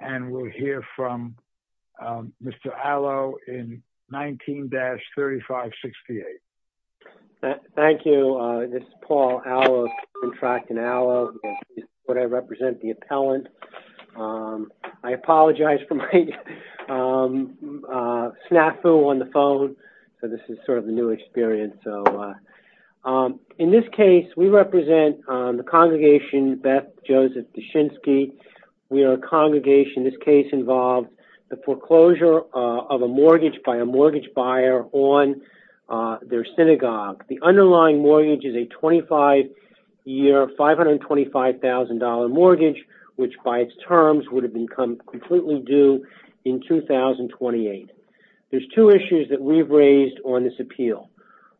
and we'll hear from Mr. Allo in 19-3568. Thank you. This is Paul Allo, Contracting Allo. This is what I represent, the appellant. I apologize for my snafu on the phone. So this is sort of a new experience. So in this case, we represent the congregation Beth Joseph Zwi Dushinsk. We are a congregation. This case involved the foreclosure of a mortgage by a mortgage buyer on their synagogue. The underlying mortgage is a 25-year, $525,000 mortgage, which by its terms would have been completely due in 2028. There's two issues that we've raised on this appeal.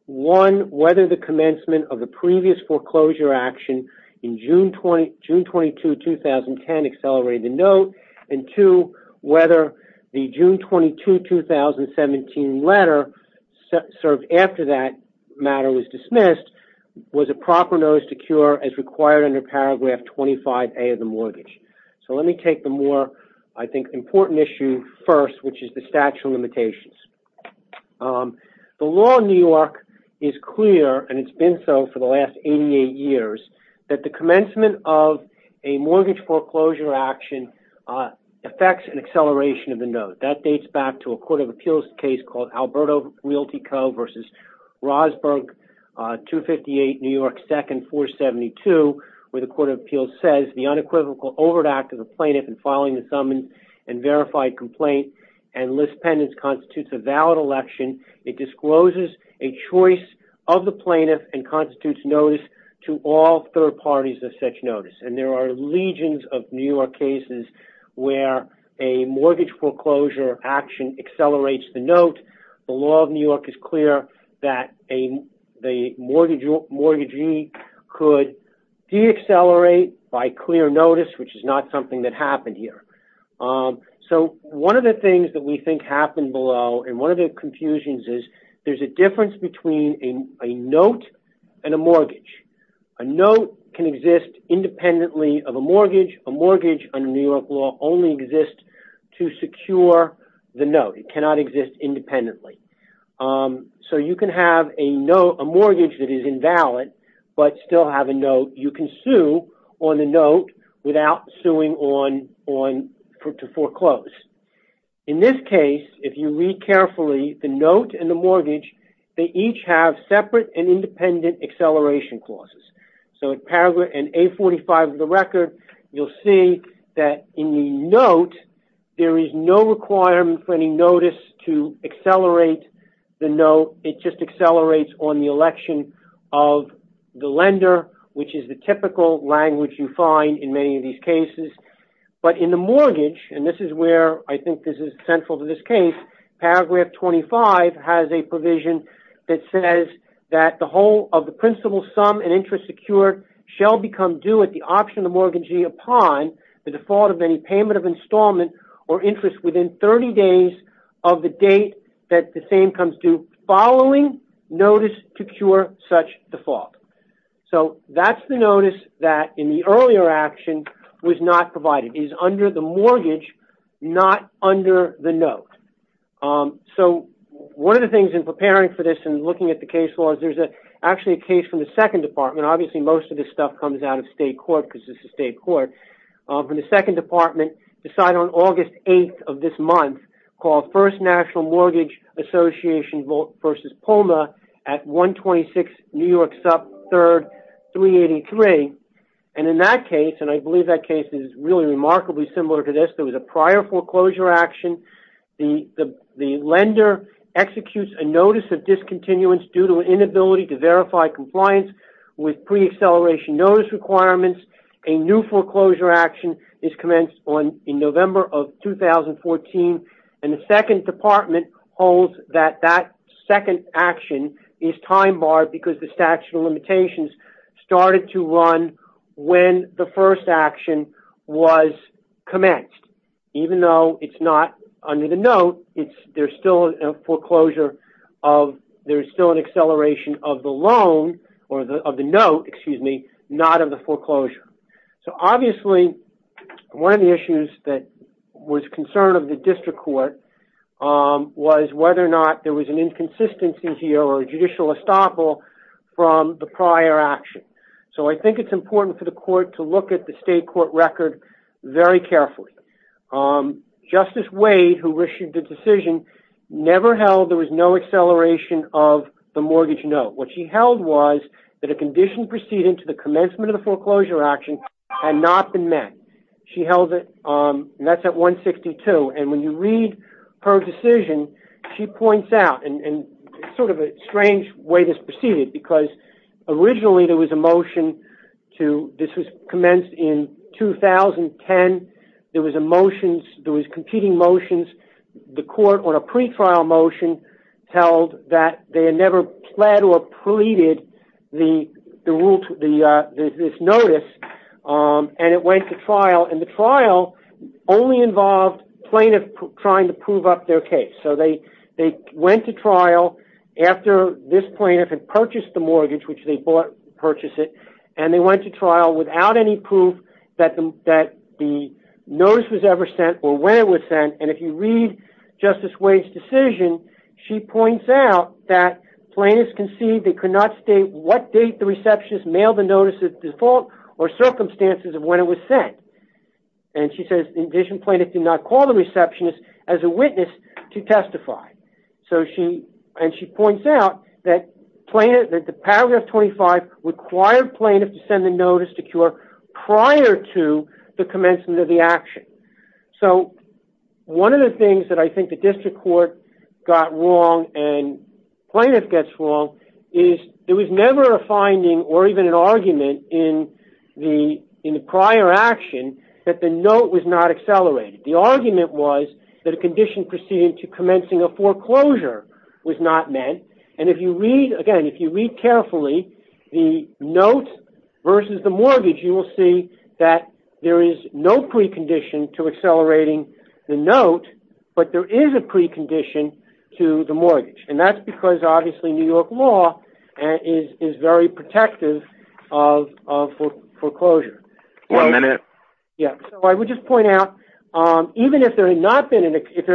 One, whether the commencement of the previous foreclosure action in June 22, 2010 accelerated the note, and two, whether the June 22, 2017 letter served after that matter was dismissed was a proper notice to cure as required under paragraph 25A of the mortgage. So let me take the more, I think, important issue first, which is the statute of limitations. The law in New York is clear, and it's been so for the last 88 years, that the commencement of a mortgage foreclosure action affects an acceleration of the note. That dates back to a court of appeals case called Alberto Realty Co. versus Rosberg 258 New York 2nd 472, where the court of appeals says the unequivocal overt act of the plaintiff in filing the summons and verified complaint and list pendants constitutes a valid election. It discloses a choice of the plaintiff and constitutes notice to all third parties of such notice, and there are legions of New York cases where a mortgage foreclosure action accelerates the note. The law of New York is clear that a mortgagee could de-accelerate by clear notice, which is not something that happened here. So one of the things that we think happened below, and one of the confusions, is there's a difference between a note and a mortgage. A note can exist independently of a mortgage. A mortgage under New York law only exists to secure the note. It cannot exist independently. So you can have a mortgage that is invalid, but still have a note. You can sue on the note without suing to foreclose. In this case, if you read carefully, the note and the mortgage, they each have separate and independent acceleration clauses. So in paragraph A45 of the note, it just accelerates on the election of the lender, which is the typical language you find in many of these cases. But in the mortgage, and this is where I think this is central to this case, paragraph 25 has a provision that says that the whole of the principal sum and interest secured shall become due at the option of the mortgagee upon the default of any payment of installment or interest within 30 days of the date that the same comes due following notice to cure such default. So that's the notice that in the earlier action was not provided, is under the mortgage, not under the note. So one of the things in preparing for this and looking at the case law is there's actually a case from the Second Department, obviously most of this stuff comes out of state court because this is state court, from the Second Department decided on August 8th of this month called First National Mortgage Association v. POMA at 126 New York 3rd 383. And in that case, and I believe that case is really remarkably similar to this, there was a prior foreclosure action. The lender executes a notice of discontinuance due to inability to a new foreclosure action is commenced on in November of 2014 and the Second Department holds that that second action is time barred because the statute of limitations started to run when the first action was commenced. Even though it's not under the note, there's still a foreclosure of there's still an acceleration of the loan or the of the note, excuse me, not of the foreclosure. So obviously one of the issues that was concern of the district court was whether or not there was an inconsistency here or a judicial estoppel from the prior action. So I think it's important for the court to look at the state court record very carefully. Justice Wade, who issued the of the mortgage note. What she held was that a condition proceeding to the commencement of the foreclosure action had not been met. She held it and that's at 162. And when you read her decision, she points out and sort of a strange way this proceeded because originally there was a motion to this was commenced in 2010. There was a motion, there was competing motions, the court on a pre-trial motion held that they had never pled or pleaded this notice and it went to trial. And the trial only involved plaintiff trying to prove up their case. So they went to trial after this plaintiff had purchased the mortgage, which they bought, purchased it, and they went to trial without any proof that the notice was ever sent or when it was sent. And if you read Justice Wade's decision, she points out that plaintiffs concede they could not state what date the receptionist mailed the notice at default or circumstances of when it was sent. And she says, in addition, plaintiff did not call the receptionist as a witness to testify. And she points out that paragraph 25 required plaintiff to send the notice to cure prior to the commencement of the action. So one of the things that I think the district court got wrong and plaintiff gets wrong is there was never a finding or even an argument in the prior action that the note was not accelerated. The argument was that a condition proceeding to commencing a foreclosure was not meant. And if you read, again, if you read carefully, the note versus the mortgage, you will see that there is no precondition to accelerating the note, but there is a precondition to the mortgage. And that's because, obviously, New York law is very protective of foreclosure. One minute. Yeah. So I would just point out, even if there had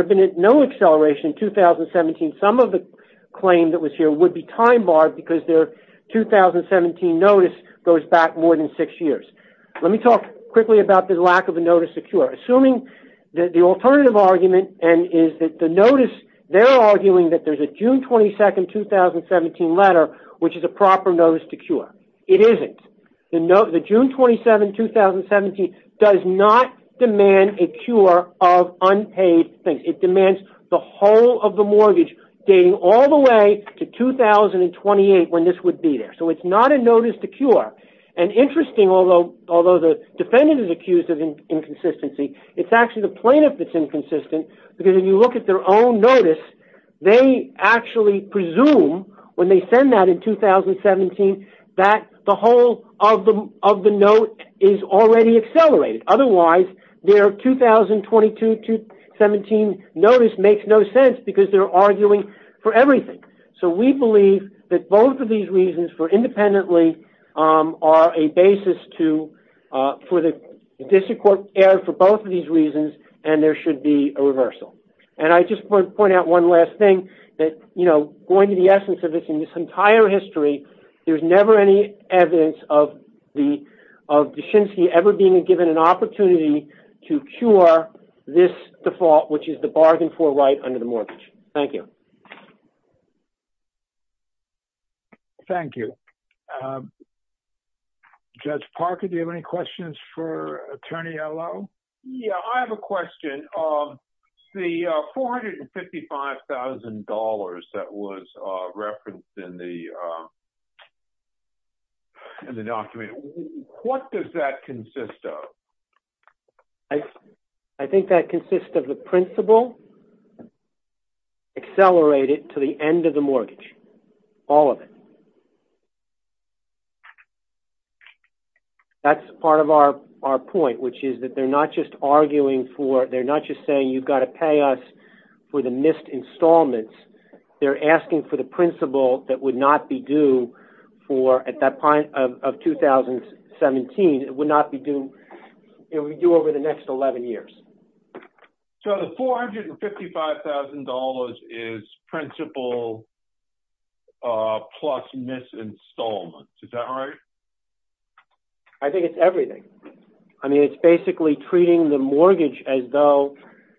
been no acceleration in 2017, some of the claim that was here would be time notice goes back more than six years. Let me talk quickly about the lack of a notice to cure. Assuming that the alternative argument is that the notice, they're arguing that there's a June 22, 2017 letter, which is a proper notice to cure. It isn't. The June 27, 2017 does not demand a cure of unpaid things. It demands the whole of the mortgage dating all the way to 2028 when this would be there. So it's not a notice to cure. And interesting, although the defendant is accused of inconsistency, it's actually the plaintiff that's inconsistent. Because if you look at their own notice, they actually presume when they send that in 2017, that the whole of the note is already accelerated. Otherwise, their 2022-2017 notice makes no sense because they're arguing for independently are a basis for the district court error for both of these reasons, and there should be a reversal. And I just want to point out one last thing, that going to the essence of this, in this entire history, there's never any evidence of Deschinsky ever being given an opportunity to cure this default, which is the bargain for right under the mortgage. Thank you. Thank you. Judge Parker, do you have any questions for Attorney Allo? Yeah, I have a question. The $455,000 that was referenced in the in the document, what does that consist of? I think that consists of the principal accelerated to the end of the mortgage, all of it. That's part of our point, which is that they're not just arguing for, they're not just saying you've got to pay us for the missed installments. They're asking for the principal that would not be due for at that point of 2017, it would not be due over the next 11 years. So the $455,000 is principal plus missed installments, is that right? I think it's everything. I mean, it's basically treating the mortgage as though,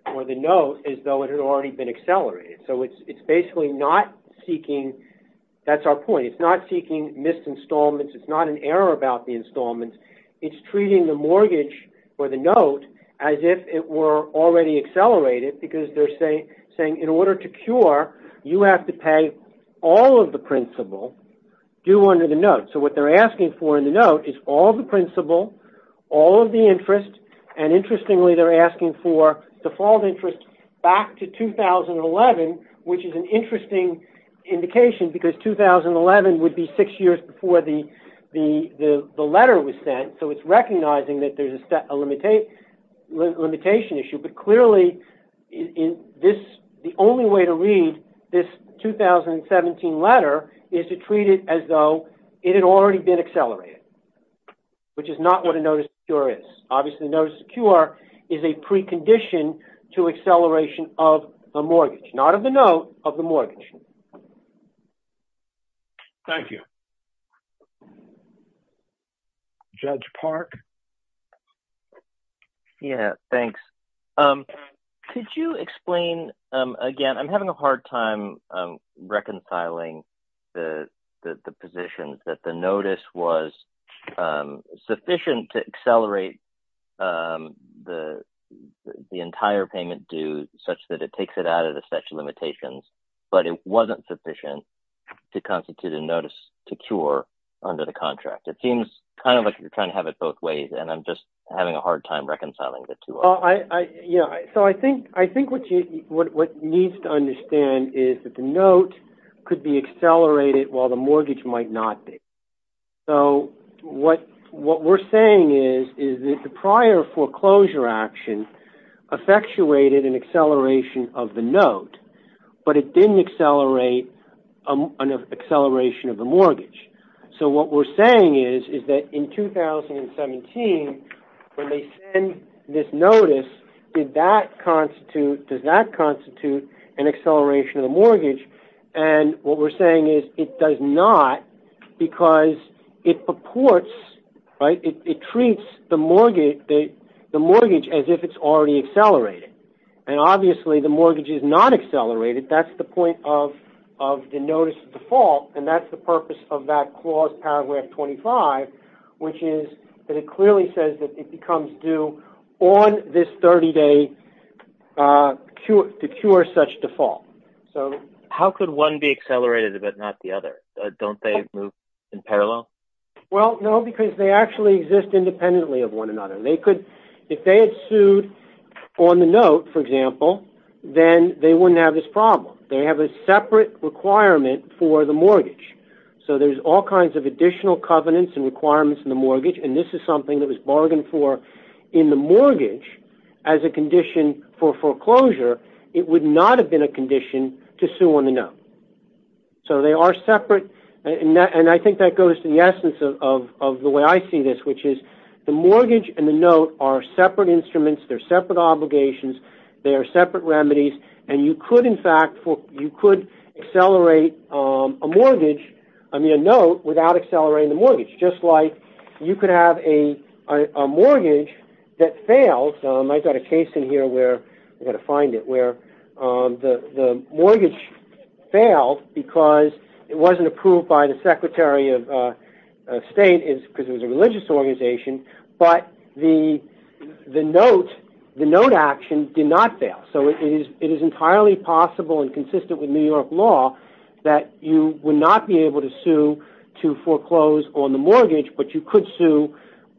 or the note as though it had already been accelerated. So it's basically not seeking, that's our point, it's not seeking missed installments. It's not an error about the installments. It's treating the mortgage or the note as if it were already accelerated, because they're saying in order to cure, you have to pay all of the principal due under the note. So what they're asking for in the note is all the principal, all of the interest, and interestingly, they're asking for default interest back to 2011, which is an interesting indication, because 2011 would be six years before the letter was sent, so it's recognizing that there's a limitation issue. But clearly, the only way to read this 2017 letter is to treat it as though it had already been accelerated, which is not what a notice of cure is. Obviously, notice of cure is a precondition to acceleration of a mortgage, not of the note, of the mortgage. Thank you. Judge Park? Yeah, thanks. Could you explain, again, I'm having a hard time reconciling the position that the notice was sufficient to accelerate the entire payment due such that it takes it out of limitations, but it wasn't sufficient to constitute a notice to cure under the contract. It seems kind of like you're trying to have it both ways, and I'm just having a hard time reconciling the two. Yeah, so I think what needs to understand is that the note could be accelerated while the mortgage might not be. So what we're saying is that the prior foreclosure action effectuated an acceleration of the note, but it didn't accelerate an acceleration of the mortgage. So what we're saying is that in 2017, when they send this notice, does that constitute an acceleration of the mortgage? And what we're saying is it does not because it purports, right, it treats the mortgage as if it's already accelerated, and obviously the mortgage is not accelerated. That's the point of the notice default, and that's the purpose of that clause, paragraph 25, which is that it clearly says that it becomes due on this 30-day to cure such default. So how could one be accelerated but not the other? Don't they move in parallel? Well, no, because they actually exist independently of one another. If they had sued on the note, for example, then they wouldn't have this problem. They have a separate requirement for the mortgage. So there's all kinds of additional covenants and requirements in the mortgage, and this is something that was bargained for in the mortgage as a condition for foreclosure. It would not have been a condition to sue on the note. So they are separate, and I think that goes to the essence of the way I see this, which is the mortgage and the note are separate instruments. They're separate obligations. They are separate remedies, and you could, in fact, you could accelerate a mortgage, I mean a note, without accelerating the mortgage, just like you could have a mortgage that failed. I've got a case in here where, I've got to find it, where the mortgage failed because it wasn't approved by the Secretary of State because it was a religious organization, but the note action did not fail. So it is entirely possible and consistent with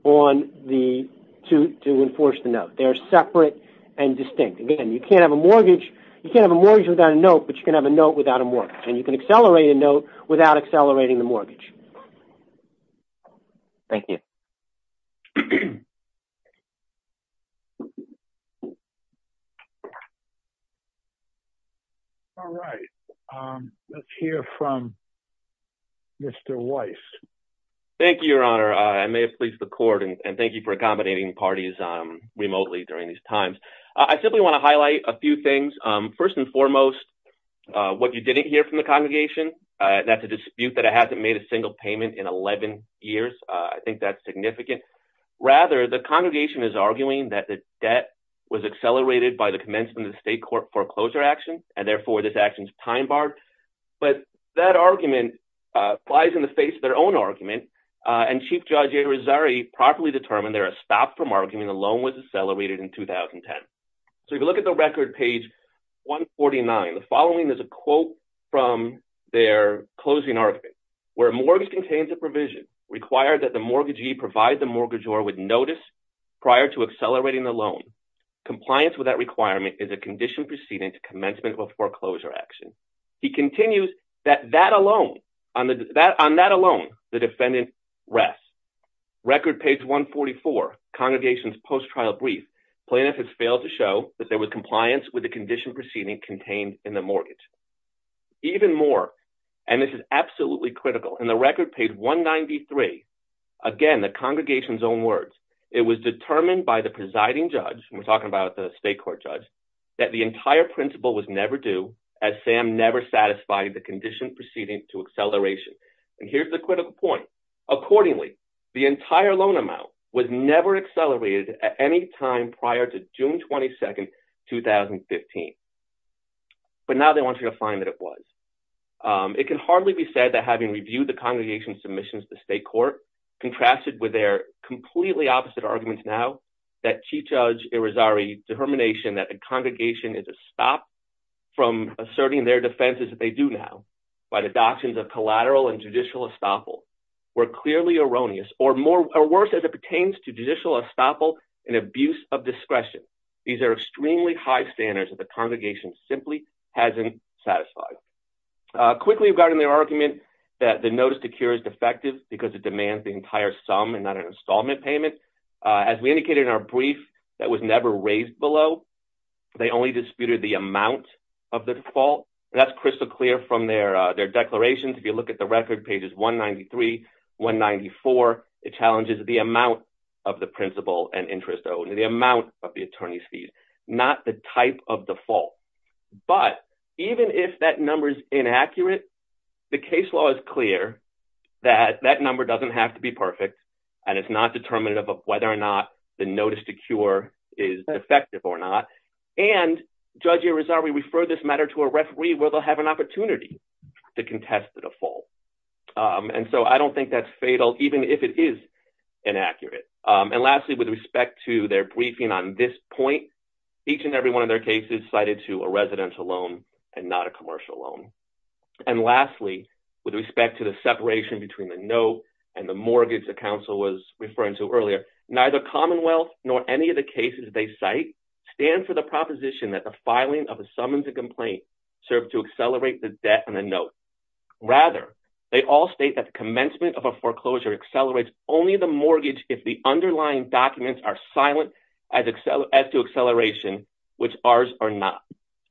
on the, to enforce the note. They're separate and distinct. Again, you can't have a mortgage, you can't have a mortgage without a note, but you can have a note without a mortgage, and you can accelerate a note without accelerating the mortgage. Thank you. All right. Let's hear from Mr. Weiss. Thank you, Your Honor. I may have pleased the court, and thank you for accommodating parties remotely during these times. I simply want to highlight a few things. First and foremost, what you didn't hear from the congregation, that's a dispute that it hasn't made a single payment in 11 years. I think that's significant. Rather, the congregation is arguing that the debt was accelerated by the commencement of the state court foreclosure action, and therefore this action's time barred. But that argument flies in the face of their own argument, and Chief Judge Irizarry properly determined there are a stop from arguing the loan was accelerated in 2010. So if you look at the record page 149, the following is a quote from their closing argument, where mortgage contains a provision required that the mortgagee provide the mortgagor with notice prior to accelerating the loan. Compliance with that requirement is a condition proceeding to commencement of a foreclosure action. He continues that that alone, on that alone, the defendant rests. Record page 144, congregation's post-trial brief, plaintiff has failed to show that there was compliance with the condition proceeding contained in the mortgage. Even more, and this is absolutely critical, in the record page 193, again the congregation's own words, it was determined by the presiding judge, and we're talking about the state court judge, that the entire principle was never due, as Sam never satisfied the condition proceeding to acceleration. And here's the critical point. Accordingly, the entire loan amount was never accelerated at any time prior to June 22, 2015. But now they want you to find that it was. It can hardly be said that having reviewed the congregation's submissions to state court, contrasted with their completely opposite arguments now, that Chief Judge Irizarry's determination that a congregation is a stop from asserting their defenses that they do now, by the doctrines of collateral and judicial estoppel, were clearly erroneous, or worse as it pertains to judicial estoppel and abuse of discretion. These are extremely high standards that the congregation simply hasn't satisfied. Quickly regarding their argument that the notice to cure is defective because it demands the entire sum and not an installment payment, as we indicated in our brief, that was never raised below. They only disputed the amount of the default. That's crystal clear from their declarations. If you look at the record pages 193, 194, it challenges the amount of the principle and the amount of the attorney's fees, not the type of default. But even if that number is inaccurate, the case law is clear that that number doesn't have to be perfect, and it's not determinative of whether or not the notice to cure is defective or not. And Judge Irizarry referred this matter to a referee where they'll have an opportunity to contest the default. And so I don't think that's inaccurate. And lastly, with respect to their briefing on this point, each and every one of their cases cited to a residential loan and not a commercial loan. And lastly, with respect to the separation between the note and the mortgage the counsel was referring to earlier, neither Commonwealth nor any of the cases they cite stand for the proposition that the filing of a summons and complaint serve to accelerate the debt and the note. Rather, they all state that the commencement of a foreclosure accelerates only the mortgage if the underlying documents are silent as to acceleration, which ours are not.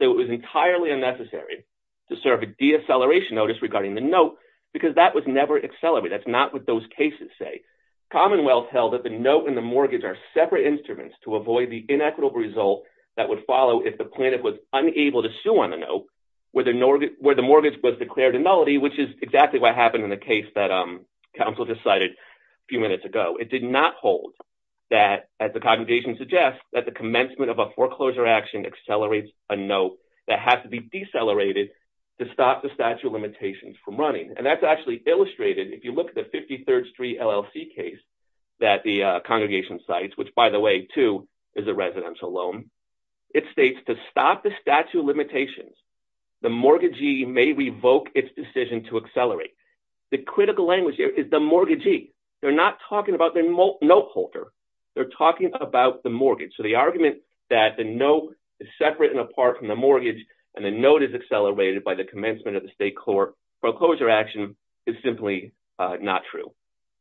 So it was entirely unnecessary to serve a deacceleration notice regarding the note because that was never accelerated. That's not what those cases say. Commonwealth held that the note and the mortgage are separate instruments to avoid the inequitable result that would follow if the plaintiff was unable to sue on the note where the mortgage was declared a nullity, which is exactly what happened in the case that counsel decided a few minutes ago. It did not hold that, as the congregation suggests, that the commencement of a foreclosure action accelerates a note that has to be decelerated to stop the statute of limitations from running. And that's actually illustrated if you look at the 53rd Street LLC case that the congregation cites, which by the way, too, is a residential loan. It states to stop the statute of limitations, the mortgagee may revoke its decision to accelerate. The critical language here is the mortgagee. They're not talking about the note holder. They're talking about the mortgage. So the argument that the note is separate and apart from the mortgage and the note is accelerated by the commencement of the state court foreclosure action is simply not true.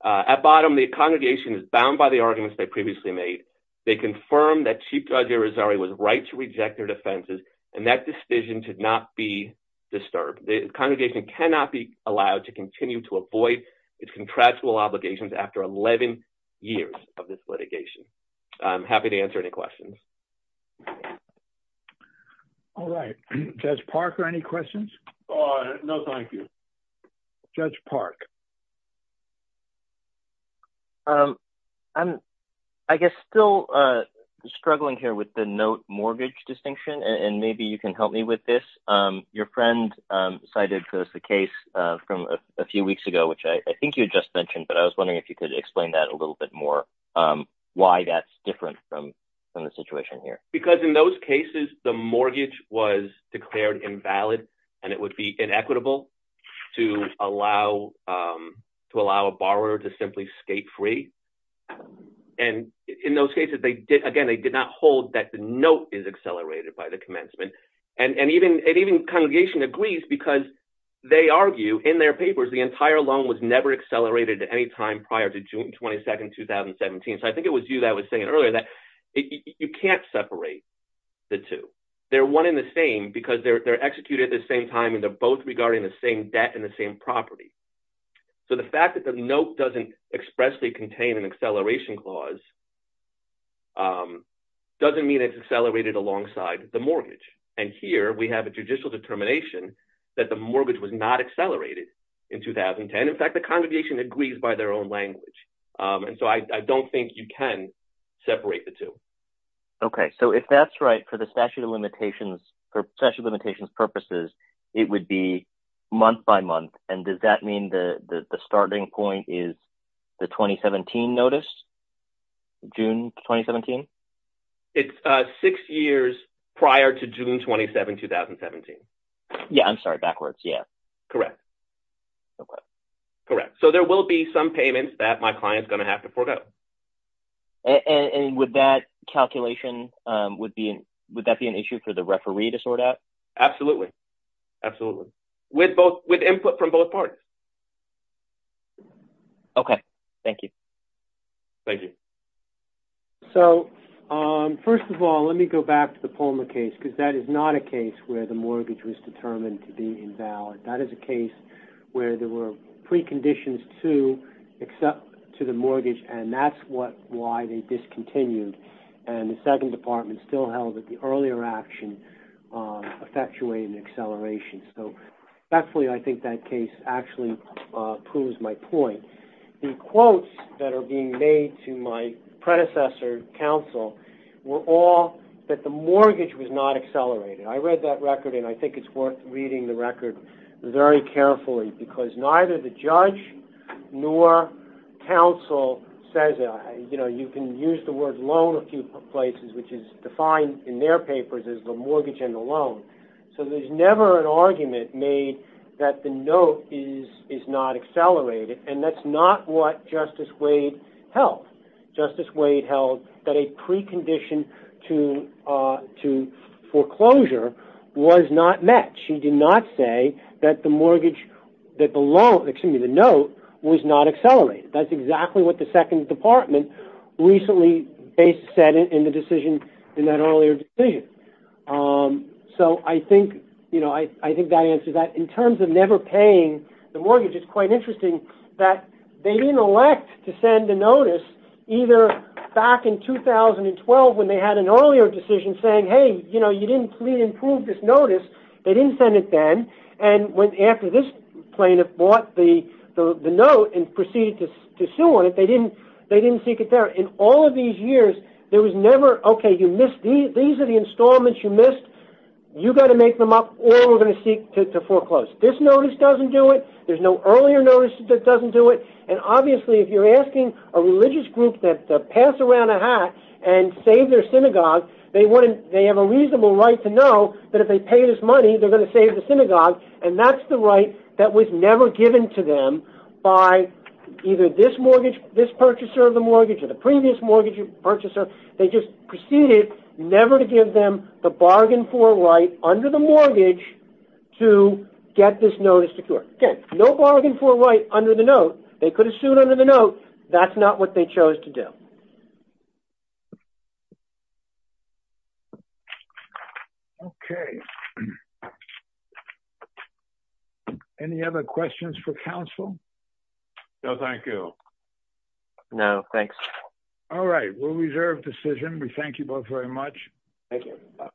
At bottom, the congregation is bound by the arguments they previously made. They confirmed that Chief Judge Irizarry was right to reject their defenses and that decision should not be disturbed. The congregation cannot be allowed to continue to avoid its contractual obligations after 11 years of this litigation. I'm happy to answer any questions. All right. Judge Parker, any questions? No, thank you. Judge Park. I'm, I guess, still struggling here with the note mortgage distinction. And maybe you can help me with this. Your friend cited the case from a few weeks ago, which I think you just mentioned, but I was wondering if you could explain that a little bit more, why that's different from the situation here. Because in those cases, the mortgage was declared invalid and it would be inequitable to allow a borrower to simply skate free. And in those cases, they did, again, they did not hold that the note is accelerated by the commencement. And even congregation agrees because they argue in their papers, the entire loan was never accelerated at any time prior to June 22nd, 2017. So I think it was you that was saying earlier that you can't separate the two. They're one in the same because they're executed at the same time and they're both regarding the same debt and the same property. So the fact that the note doesn't expressly contain an acceleration clause doesn't mean it's accelerated alongside the mortgage. And here we have a judicial determination that the mortgage was not accelerated in 2010. In fact, the congregation agrees by their own language. And so I don't think you can separate the two. Okay. So if that's right for the it would be month by month. And does that mean the starting point is the 2017 notice? June 2017? It's six years prior to June 27, 2017. Yeah. I'm sorry. Backwards. Yeah. Correct. Okay. Correct. So there will be some payments that my client's going to have to forego. And with that calculation, would that be an issue for the referee to sort out? Absolutely. Absolutely. With input from both parties. Okay. Thank you. Thank you. So first of all, let me go back to the Palmer case because that is not a case where the mortgage was determined to be invalid. That is a case where there were preconditions to the mortgage and that's why they discontinued. And the second department still held that the earlier action effectuated an acceleration. So thankfully, I think that case actually proves my point. The quotes that are being made to my predecessor counsel were all that the mortgage was not accelerated. I read that record and I think it's worth reading the record very carefully because neither the judge nor counsel says, you know, you can use the word loan a few places, which is so there's never an argument made that the note is not accelerated. And that's not what Justice Wade held. Justice Wade held that a precondition to foreclosure was not met. She did not say that the mortgage, that the loan, excuse me, the note was not accelerated. That's exactly what the I think that answers that. In terms of never paying the mortgage, it's quite interesting that they didn't elect to send a notice either back in 2012 when they had an earlier decision saying, hey, you know, you didn't improve this notice. They didn't send it then. And after this plaintiff bought the note and proceeded to sue on it, they didn't seek it there. In all of these years, there was never, okay, you missed these are the installments you missed. You got to make them up or we're going to seek to foreclose. This notice doesn't do it. There's no earlier notice that doesn't do it. And obviously if you're asking a religious group that pass around a hat and save their synagogue, they have a reasonable right to know that if they pay this money, they're going to save the synagogue. And that's the right that was never given to them by either this mortgage, this purchaser of the mortgage or the previous mortgage purchaser. They just proceeded never to give them the bargain for right under the mortgage to get this notice secured. Again, no bargain for right under the note. They could have sued under the note. That's not what they chose to do. Okay. Any other questions for counsel? No, thank you. No, thanks. All right. We'll reserve decision. We thank you both very much. Thank you.